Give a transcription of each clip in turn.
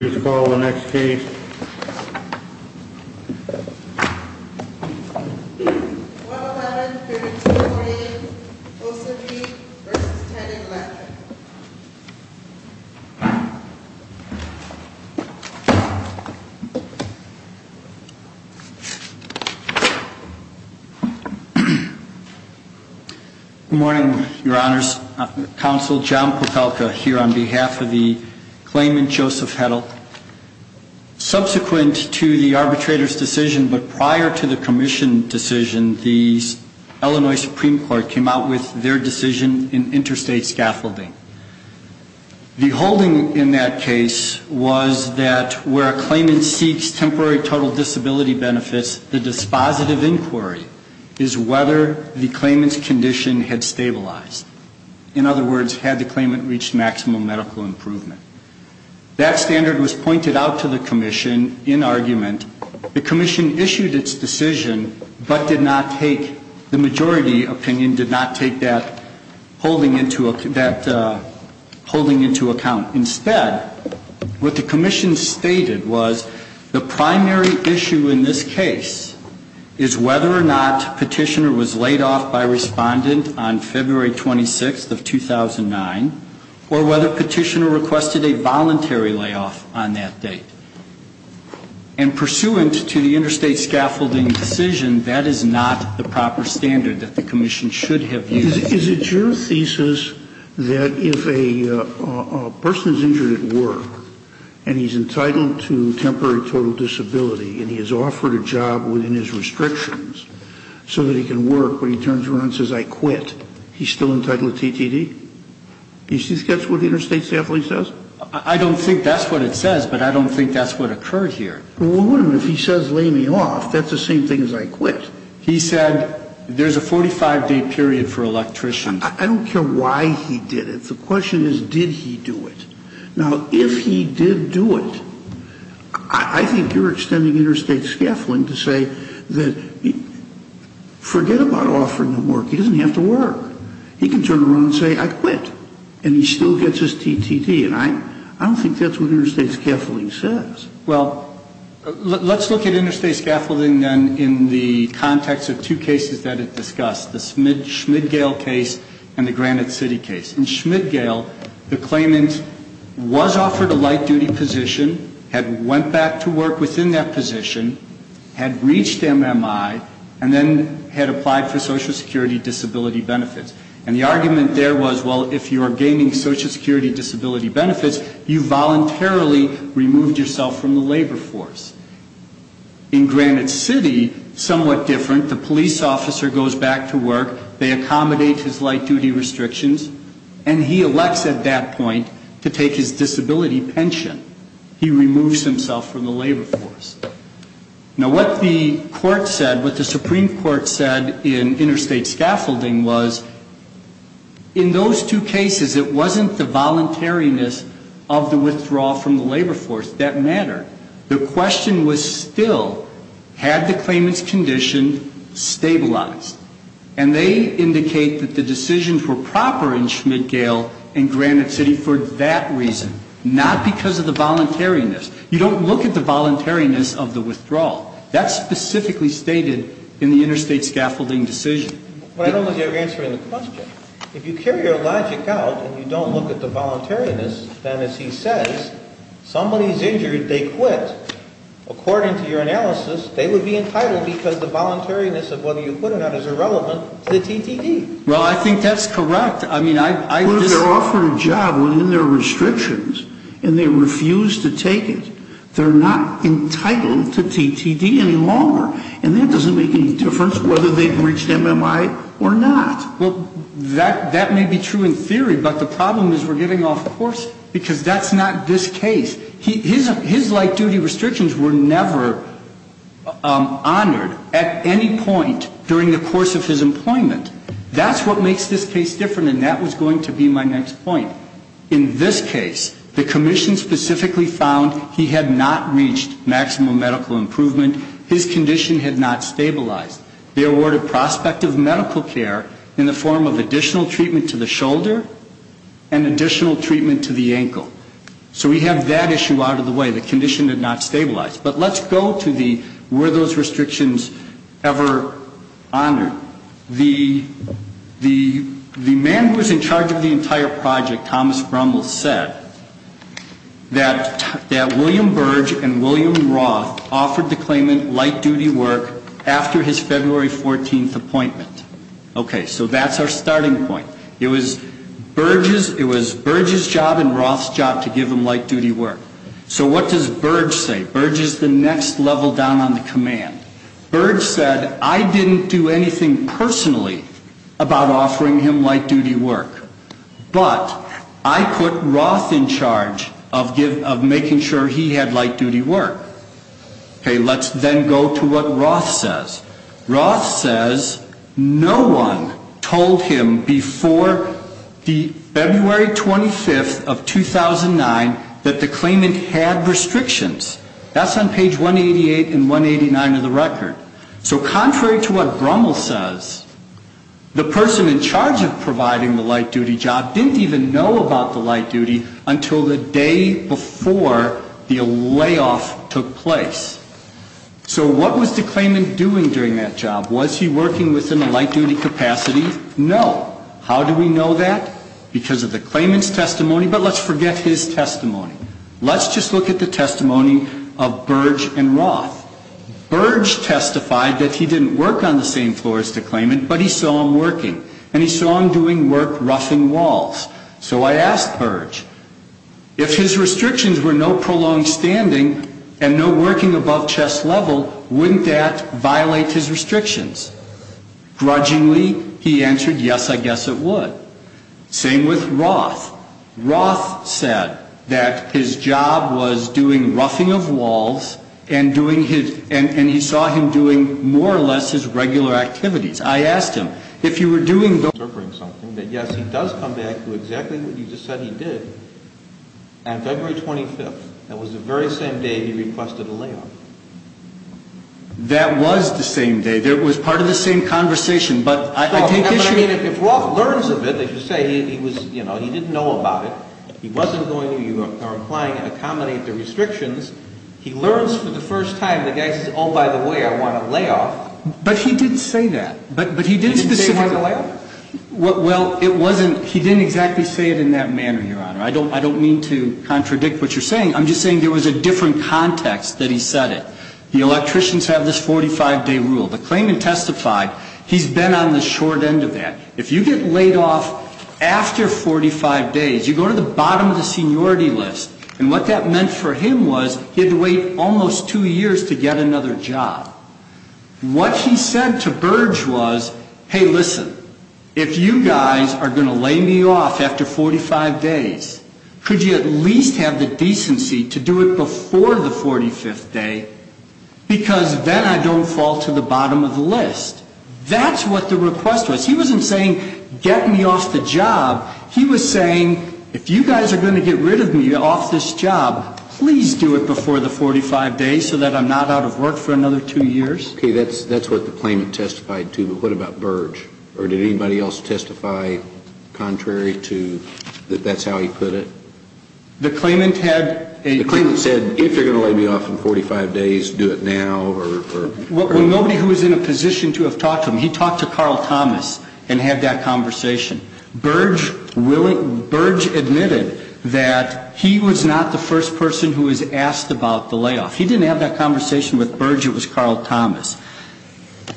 Please call the next case. 111-3648, O'Sage v. Teddick-Latkin Good morning, Your Honors. Counsel John Popelka here on behalf of the claimant Joseph Hedl. Subsequent to the arbitrator's decision, but prior to the commission decision, the Illinois Supreme Court came out with their decision in interstate scaffolding. The holding in that case was that where a claimant seeks temporary total disability benefits, the dispositive inquiry is whether the claimant's condition had stabilized. In other words, had the claimant reached maximum medical improvement. That standard was pointed out to the commission in argument. The commission issued its decision, but did not take, the majority opinion did not take that holding into account. Instead, what the commission stated was the primary issue in this case is whether or not petitioner was laid off by respondent on February 26th of 2009, or whether petitioner requested a voluntary layoff on that date. And pursuant to the interstate scaffolding decision, that is not the proper standard that the commission should have used. Is it your thesis that if a person is injured at work, and he's entitled to temporary total disability, and he is offered a job within his restrictions so that he can work, but he turns around and says I quit, he's still entitled to TTD? Do you think that's what the interstate scaffolding says? I don't think that's what it says, but I don't think that's what occurred here. Well, if he says lay me off, that's the same thing as I quit. He said there's a 45-day period for electricians. I don't care why he did it. The question is did he do it? Now, if he did do it, I think you're extending interstate scaffolding to say that forget about offering him work. He doesn't have to work. He can turn around and say I quit, and he still gets his TTD. And I don't think that's what interstate scaffolding says. Well, let's look at interstate scaffolding then in the context of two cases that it discussed, the Schmidgale case and the Granite City case. In Schmidgale, the claimant was offered a light-duty position, had went back to work within that position, had reached MMI, and then had applied for Social Security disability benefits. And the argument there was, well, if you are gaining Social Security disability benefits, you voluntarily removed yourself from the labor force. In Granite City, somewhat different, the police officer goes back to work, they accommodate his light-duty restrictions, and he elects at that point to take his disability pension. He removes himself from the labor force. Now, what the court said, what the Supreme Court said in interstate scaffolding was, in those two cases, it wasn't the voluntariness of the withdrawal from the labor force that mattered. The question was still, had the claimant's condition stabilized? And they indicate that the decisions were proper in Schmidgale and Granite City for that reason, not because of the voluntariness. You don't look at the voluntariness of the withdrawal. That's specifically stated in the interstate scaffolding decision. But I don't know if you're answering the question. If you carry your logic out and you don't look at the voluntariness, then, as he says, somebody's injured, they quit. According to your analysis, they would be entitled because the voluntariness of whether you quit or not is irrelevant to the TTD. Well, I think that's correct. Well, if they're offered a job within their restrictions and they refuse to take it, they're not entitled to TTD any longer. And that doesn't make any difference whether they've reached MMI or not. Well, that may be true in theory, but the problem is we're getting off course because that's not this case. His light-duty restrictions were never honored at any point during the course of his employment. That's what makes this case different, and that was going to be my next point. In this case, the commission specifically found he had not reached maximum medical improvement. His condition had not stabilized. They awarded prospective medical care in the form of additional treatment to the shoulder and additional treatment to the ankle. So we have that issue out of the way. The condition had not stabilized. But let's go to the were those restrictions ever honored. The man who was in charge of the entire project, Thomas Brummel, said that William Burge and William Roth offered the claimant light-duty work after his February 14th appointment. Okay, so that's our starting point. It was Burge's job and Roth's job to give him light-duty work. So what does Burge say? Burge is the next level down on the command. Burge said, I didn't do anything personally about offering him light-duty work, but I put Roth in charge of making sure he had light-duty work. Okay, let's then go to what Roth says. Roth says no one told him before the February 25th of 2009 that the claimant had restrictions. That's on page 188 and 189 of the record. So contrary to what Brummel says, the person in charge of providing the light-duty job didn't even know about the light-duty until the day before the layoff took place. So what was the claimant doing during that job? Was he working within the light-duty capacity? No. How do we know that? Because of the claimant's testimony. But let's forget his testimony. Let's just look at the testimony of Burge and Roth. Burge testified that he didn't work on the same floor as the claimant, but he saw him working. And he saw him doing work roughing walls. So I asked Burge, if his restrictions were no prolonged standing and no working above chest level, wouldn't that violate his restrictions? Grudgingly, he answered, yes, I guess it would. Same with Roth. Roth said that his job was doing roughing of walls and he saw him doing more or less his regular activities. I asked him, if you were doing those things, would you be interpreting something that, yes, he does come back to exactly what you just said he did on February 25th? That was the very same day he requested a layoff. That was the same day. It was part of the same conversation. But if Roth learns of it, as you say, he didn't know about it. He wasn't going to, you are implying, accommodate the restrictions. He learns for the first time. The guy says, oh, by the way, I want a layoff. But he did say that. But he didn't specifically. He didn't say he wanted a layoff? Well, it wasn't. He didn't exactly say it in that manner, Your Honor. I don't mean to contradict what you're saying. I'm just saying there was a different context that he said it. The electricians have this 45-day rule. The claimant testified he's been on the short end of that. If you get laid off after 45 days, you go to the bottom of the seniority list. And what that meant for him was he had to wait almost two years to get another job. What he said to Burge was, hey, listen, if you guys are going to lay me off after 45 days, could you at least have the decency to do it before the 45th day? Because then I don't fall to the bottom of the list. That's what the request was. He wasn't saying get me off the job. He was saying if you guys are going to get rid of me off this job, please do it before the 45 days so that I'm not out of work for another two years. Okay. That's what the claimant testified to. But what about Burge? Or did anybody else testify contrary to that's how he put it? The claimant had a ---- He said if you're going to lay me off in 45 days, do it now or ---- Well, nobody who was in a position to have talked to him, he talked to Carl Thomas and had that conversation. Burge admitted that he was not the first person who was asked about the layoff. He didn't have that conversation with Burge. It was Carl Thomas.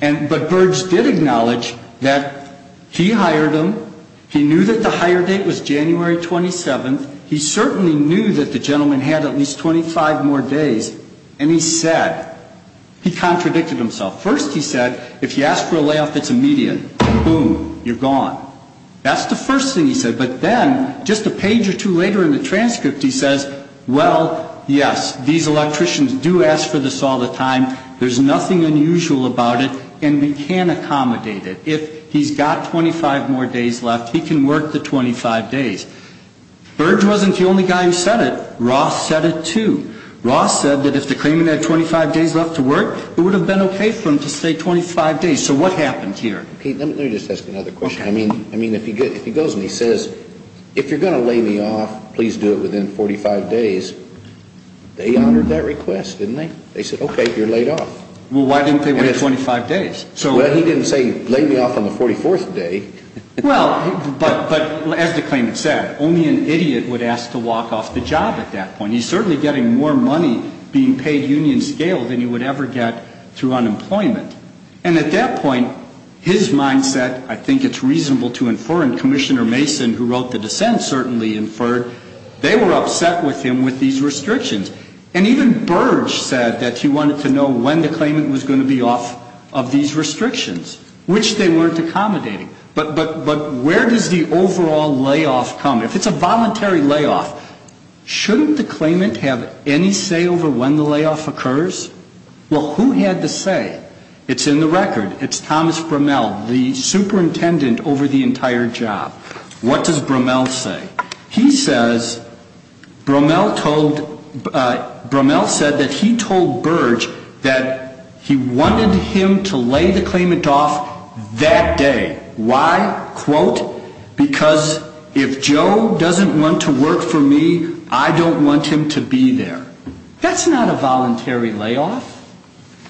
But Burge did acknowledge that he hired him. He knew that the hire date was January 27th. He certainly knew that the gentleman had at least 25 more days. And he said, he contradicted himself. First he said if you ask for a layoff, it's immediate. Boom. You're gone. That's the first thing he said. But then just a page or two later in the transcript he says, well, yes, these electricians do ask for this all the time. There's nothing unusual about it. And we can accommodate it. If he's got 25 more days left, he can work the 25 days. Burge wasn't the only guy who said it. Ross said it too. Ross said that if the claimant had 25 days left to work, it would have been okay for him to stay 25 days. So what happened here? Let me just ask another question. I mean, if he goes and he says, if you're going to lay me off, please do it within 45 days, they honored that request, didn't they? They said, okay, you're laid off. Well, why didn't they wait 25 days? Well, he didn't say lay me off on the 44th day. Well, but as the claimant said, only an idiot would ask to walk off the job at that point. He's certainly getting more money being paid union scale than he would ever get through unemployment. And at that point, his mindset, I think it's reasonable to infer, and Commissioner Mason, who wrote the dissent, certainly inferred, they were upset with him with these restrictions. And even Burge said that he wanted to know when the claimant was going to be off of these restrictions, which they weren't accommodating. But where does the overall layoff come? If it's a voluntary layoff, shouldn't the claimant have any say over when the layoff occurs? Well, who had the say? It's in the record. It's Thomas Bromell, the superintendent over the entire job. What does Bromell say? He says, Bromell said that he told Burge that he wanted him to lay the claimant off that day. Why? Quote, because if Joe doesn't want to work for me, I don't want him to be there. That's not a voluntary layoff.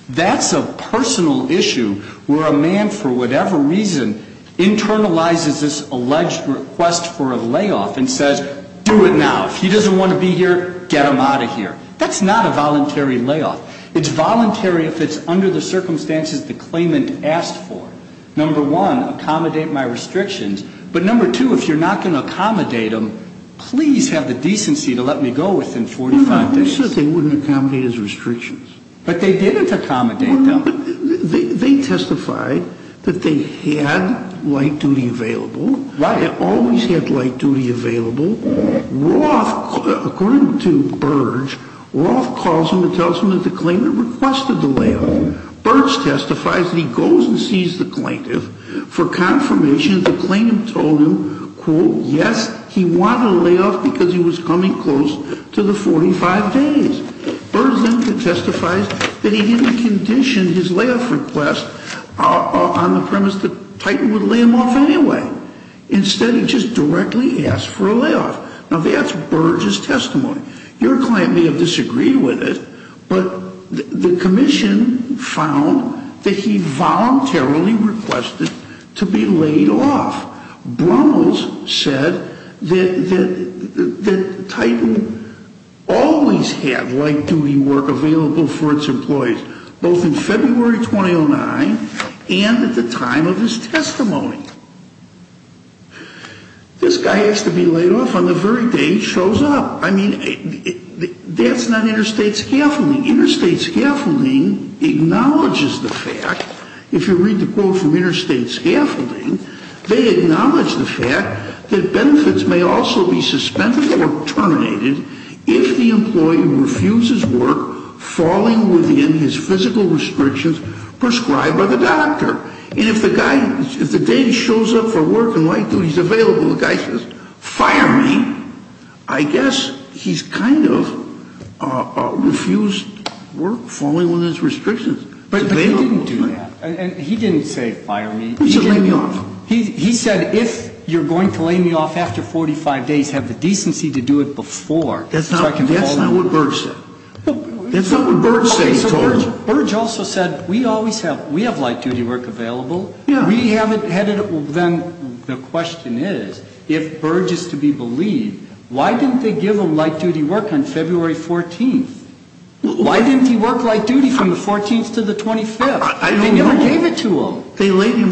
That's a personal issue where a man, for whatever reason, internalizes this alleged request for a layoff and says, do it now. If he doesn't want to be here, get him out of here. That's not a voluntary layoff. It's voluntary if it's under the circumstances the claimant asked for. Number one, accommodate my restrictions. But number two, if you're not going to accommodate them, please have the decency to let me go within 45 days. I said they wouldn't accommodate his restrictions. But they didn't accommodate them. They testified that they had light duty available. Right. They always had light duty available. Roth, according to Burge, Roth calls him and tells him that the claimant requested the layoff. Burge testifies that he goes and sees the plaintiff for confirmation. The plaintiff told him, quote, yes, he wanted a layoff because he was coming close to the 45 days. Burge then testifies that he didn't condition his layoff request on the premise that Titan would lay him off anyway. Instead, he just directly asked for a layoff. Now, that's Burge's testimony. Your client may have disagreed with it, but the commission found that he voluntarily requested to be laid off. Brummels said that Titan always had light duty work available for its employees, both in February 2009 and at the time of his testimony. This guy has to be laid off on the very day he shows up. I mean, that's not interstate scaffolding. Interstate scaffolding acknowledges the fact, if you read the quote from interstate scaffolding, they acknowledge the fact that benefits may also be suspended or terminated if the employee refuses work, falling within his physical restrictions prescribed by the doctor. And if the guy, if the day he shows up for work and light duty is available, the guy says fire me, I guess he's kind of refused work, falling within his restrictions. But he didn't do that. He didn't say fire me. He said lay me off. He said if you're going to lay me off after 45 days, have the decency to do it before. That's not what Burge said. That's not what Burge said. So Burge also said we always have, we have light duty work available. We haven't had it. Then the question is, if Burge is to be believed, why didn't they give him light duty work on February 14th? Why didn't he work light duty from the 14th to the 25th? They never gave it to him.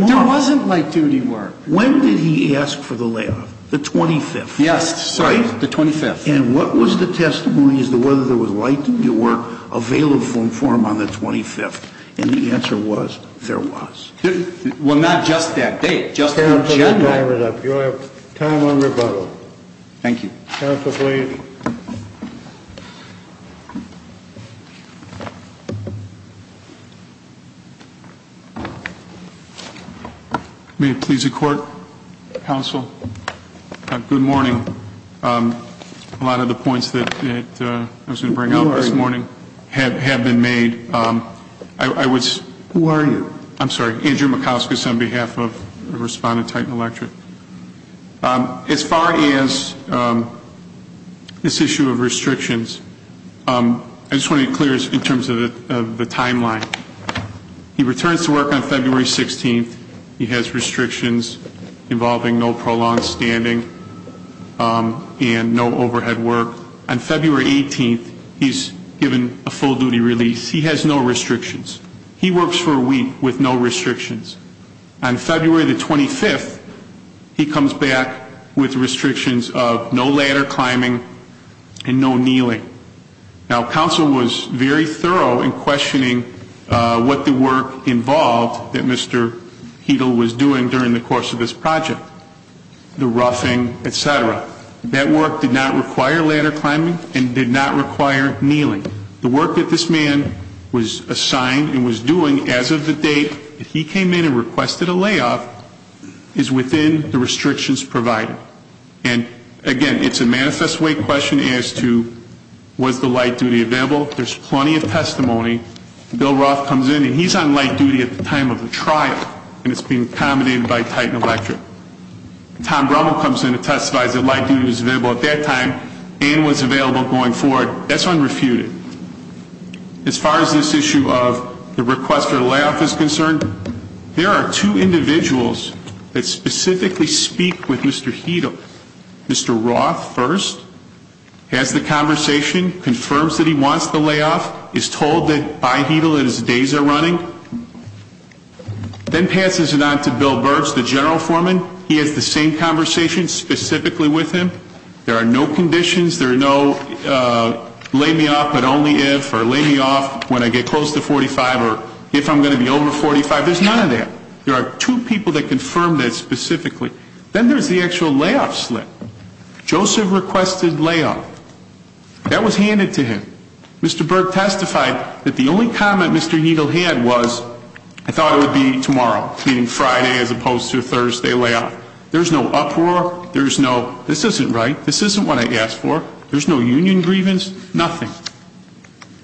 There wasn't light duty work. When did he ask for the layoff? The 25th. Yes, sorry, the 25th. And what was the testimony as to whether there was light duty work available for him on the 25th? And the answer was there was. Well, not just that date, just the agenda. You have time on rebuttal. Thank you. Counsel, please. May it please the Court, Counsel, good morning. A lot of the points that I was going to bring up this morning have been made. Who are you? I'm sorry, Andrew Mikauskas on behalf of Respondent Titan Electric. As far as this issue of restrictions, I just want to be clear in terms of the timeline. He returns to work on February 16th. He has restrictions involving no prolonged standing and no overhead work. On February 18th, he's given a full duty release. He has no restrictions. He works for a week with no restrictions. On February the 25th, he comes back with restrictions of no ladder climbing and no kneeling. Now, counsel was very thorough in questioning what the work involved that Mr. Heidel was doing during the course of this project, the roughing, et cetera. That work did not require ladder climbing and did not require kneeling. The work that this man was assigned and was doing as of the date that he came in and requested a layoff is within the restrictions provided. Again, it's a manifest way question as to was the light duty available. There's plenty of testimony. Bill Roth comes in, and he's on light duty at the time of the trial, and it's being accommodated by Titan Electric. Tom Brummel comes in and testifies that light duty was available at that time and was available going forward. That's unrefuted. As far as this issue of the request for a layoff is concerned, there are two individuals that specifically speak with Mr. Heidel. Mr. Roth first has the conversation, confirms that he wants the layoff, is told by Heidel that his days are running, then passes it on to Bill Burch, the general foreman. He has the same conversation specifically with him. There are no conditions. There are no lay me off but only if or lay me off when I get close to 45 or if I'm going to be over 45. There's none of that. There are two people that confirm that specifically. Then there's the actual layoff slip. Joseph requested layoff. That was handed to him. Mr. Burch testified that the only comment Mr. Heidel had was, I thought it would be tomorrow, meaning Friday as opposed to Thursday layoff. There's no uproar. There's no, this isn't right. This isn't what I asked for. There's no union grievance, nothing.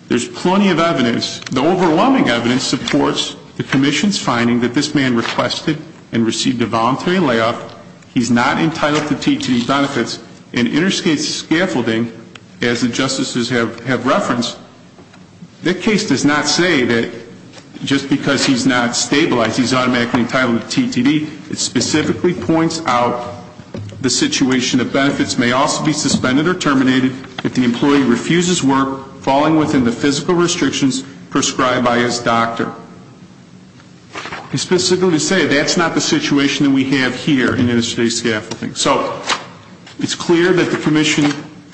There's plenty of evidence. The overwhelming evidence supports the commission's finding that this man requested and received a voluntary layoff. He's not entitled to TTD benefits and interstate scaffolding, as the justices have referenced, that case does not say that just because he's not stabilized he's automatically entitled to TTD. It specifically points out the situation that benefits may also be suspended or terminated if the employee refuses work, falling within the physical restrictions prescribed by his doctor. Specifically to say that's not the situation that we have here in interstate scaffolding. So it's clear that the commission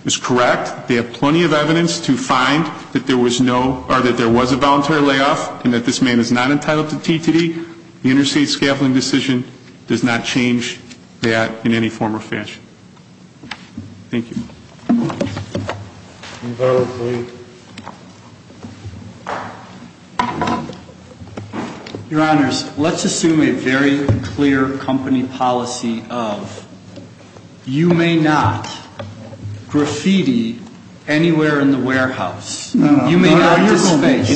is correct. They have plenty of evidence to find that there was no, or that there was a voluntary layoff and that this man is not entitled to TTD. The interstate scaffolding decision does not change that in any form or fashion. Thank you. Your Honors, let's assume a very clear company policy of you may not graffiti anywhere in the warehouse. You may not disface.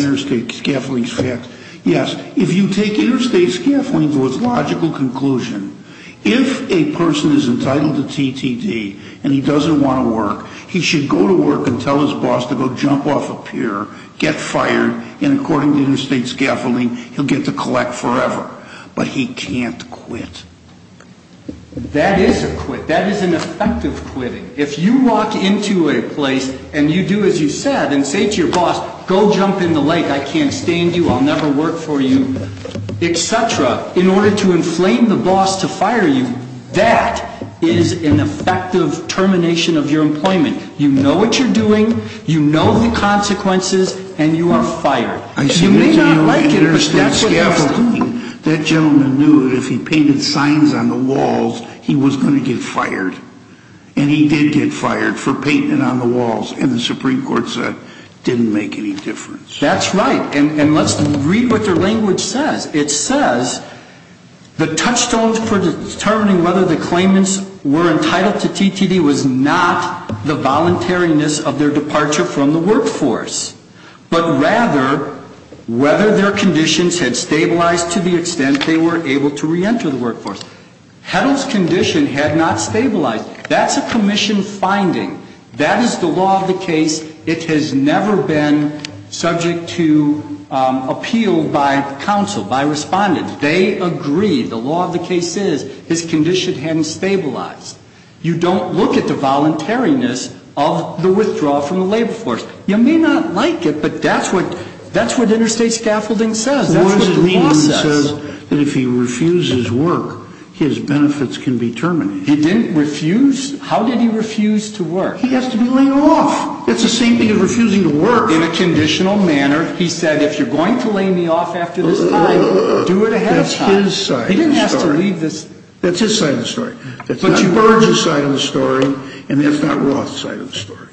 Yes. If you take interstate scaffolding to its logical conclusion, if a person is entitled to TTD and he doesn't want to work, he should go to work and tell his boss to go jump off a pier, get fired, and according to interstate scaffolding, he'll get to collect forever. But he can't quit. That is a quit. That is an effective quitting. If you walk into a place and you do as you said and say to your boss, go jump in the lake, I can't stand you, I'll never work for you, et cetera, in order to inflame the boss to fire you, that is an effective termination of your employment. You know what you're doing, you know the consequences, and you are fired. You may not like it, but that's what you're doing. That gentleman knew that if he painted signs on the walls, he was going to get fired. And he did get fired for painting it on the walls, and the Supreme Court said it didn't make any difference. That's right. And let's read what their language says. It says, the touchstones for determining whether the claimants were entitled to TTD was not the voluntariness of their departure from the workforce, but rather whether their conditions had stabilized to the extent they were able to reenter the workforce. Heddle's condition had not stabilized. That's a commission finding. That is the law of the case. It has never been subject to appeal by counsel, by respondents. They agree. The law of the case is his condition hadn't stabilized. You don't look at the voluntariness of the withdrawal from the labor force. You may not like it, but that's what interstate scaffolding says. That's what the law says. What does it mean? It says that if he refuses work, his benefits can be terminated. He didn't refuse? How did he refuse to work? He has to be laid off. It's the same thing as refusing to work. In a conditional manner, he said, if you're going to lay me off after this time, do it ahead of time. That's his side of the story. He didn't have to leave this. That's his side of the story. That's not Burge's side of the story, and that's not Roth's side of the story.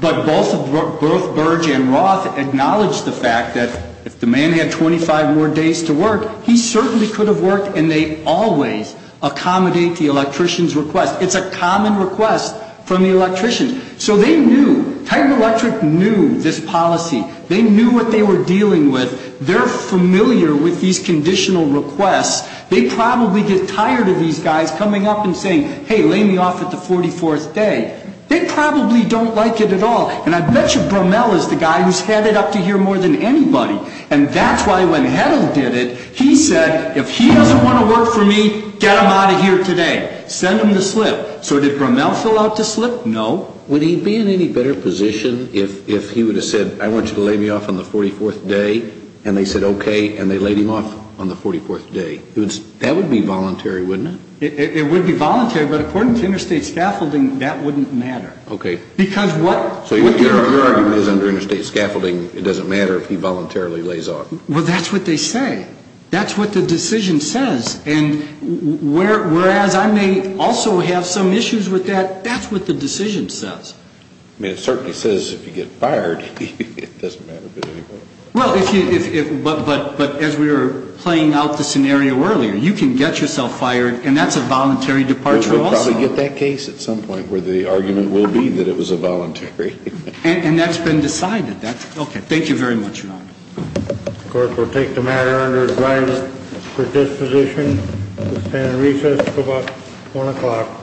But both Burge and Roth acknowledge the fact that if the man had 25 more days to work, he certainly could have worked, and they always accommodate the electrician's request. It's a common request from the electrician. So they knew. Titan Electric knew this policy. They knew what they were dealing with. They're familiar with these conditional requests. They probably get tired of these guys coming up and saying, hey, lay me off at the 44th day. They probably don't like it at all, and I bet you Brumell is the guy who's headed up to here more than anybody, and that's why when Hedl did it, he said, if he doesn't want to work for me, get him out of here today. Send him to slip. So did Brumell fill out the slip? No. Would he be in any better position if he would have said, I want you to lay me off on the 44th day, and they said okay, and they laid him off on the 44th day? That would be voluntary, wouldn't it? It would be voluntary, but according to interstate scaffolding, that wouldn't matter. Okay. Because what you're arguing is under interstate scaffolding, it doesn't matter if he voluntarily lays off. Well, that's what they say. That's what the decision says, and whereas I may also have some issues with that, that's what the decision says. I mean, it certainly says if you get fired, it doesn't matter. Well, but as we were playing out the scenario earlier, you can get yourself fired, and that's a voluntary departure also. We'll probably get that case at some point where the argument will be that it was a voluntary. And that's been decided. Okay. Thank you very much, Ron. Of course, we'll take the matter under advisory for disposition. We'll stand in recess until about 1 o'clock.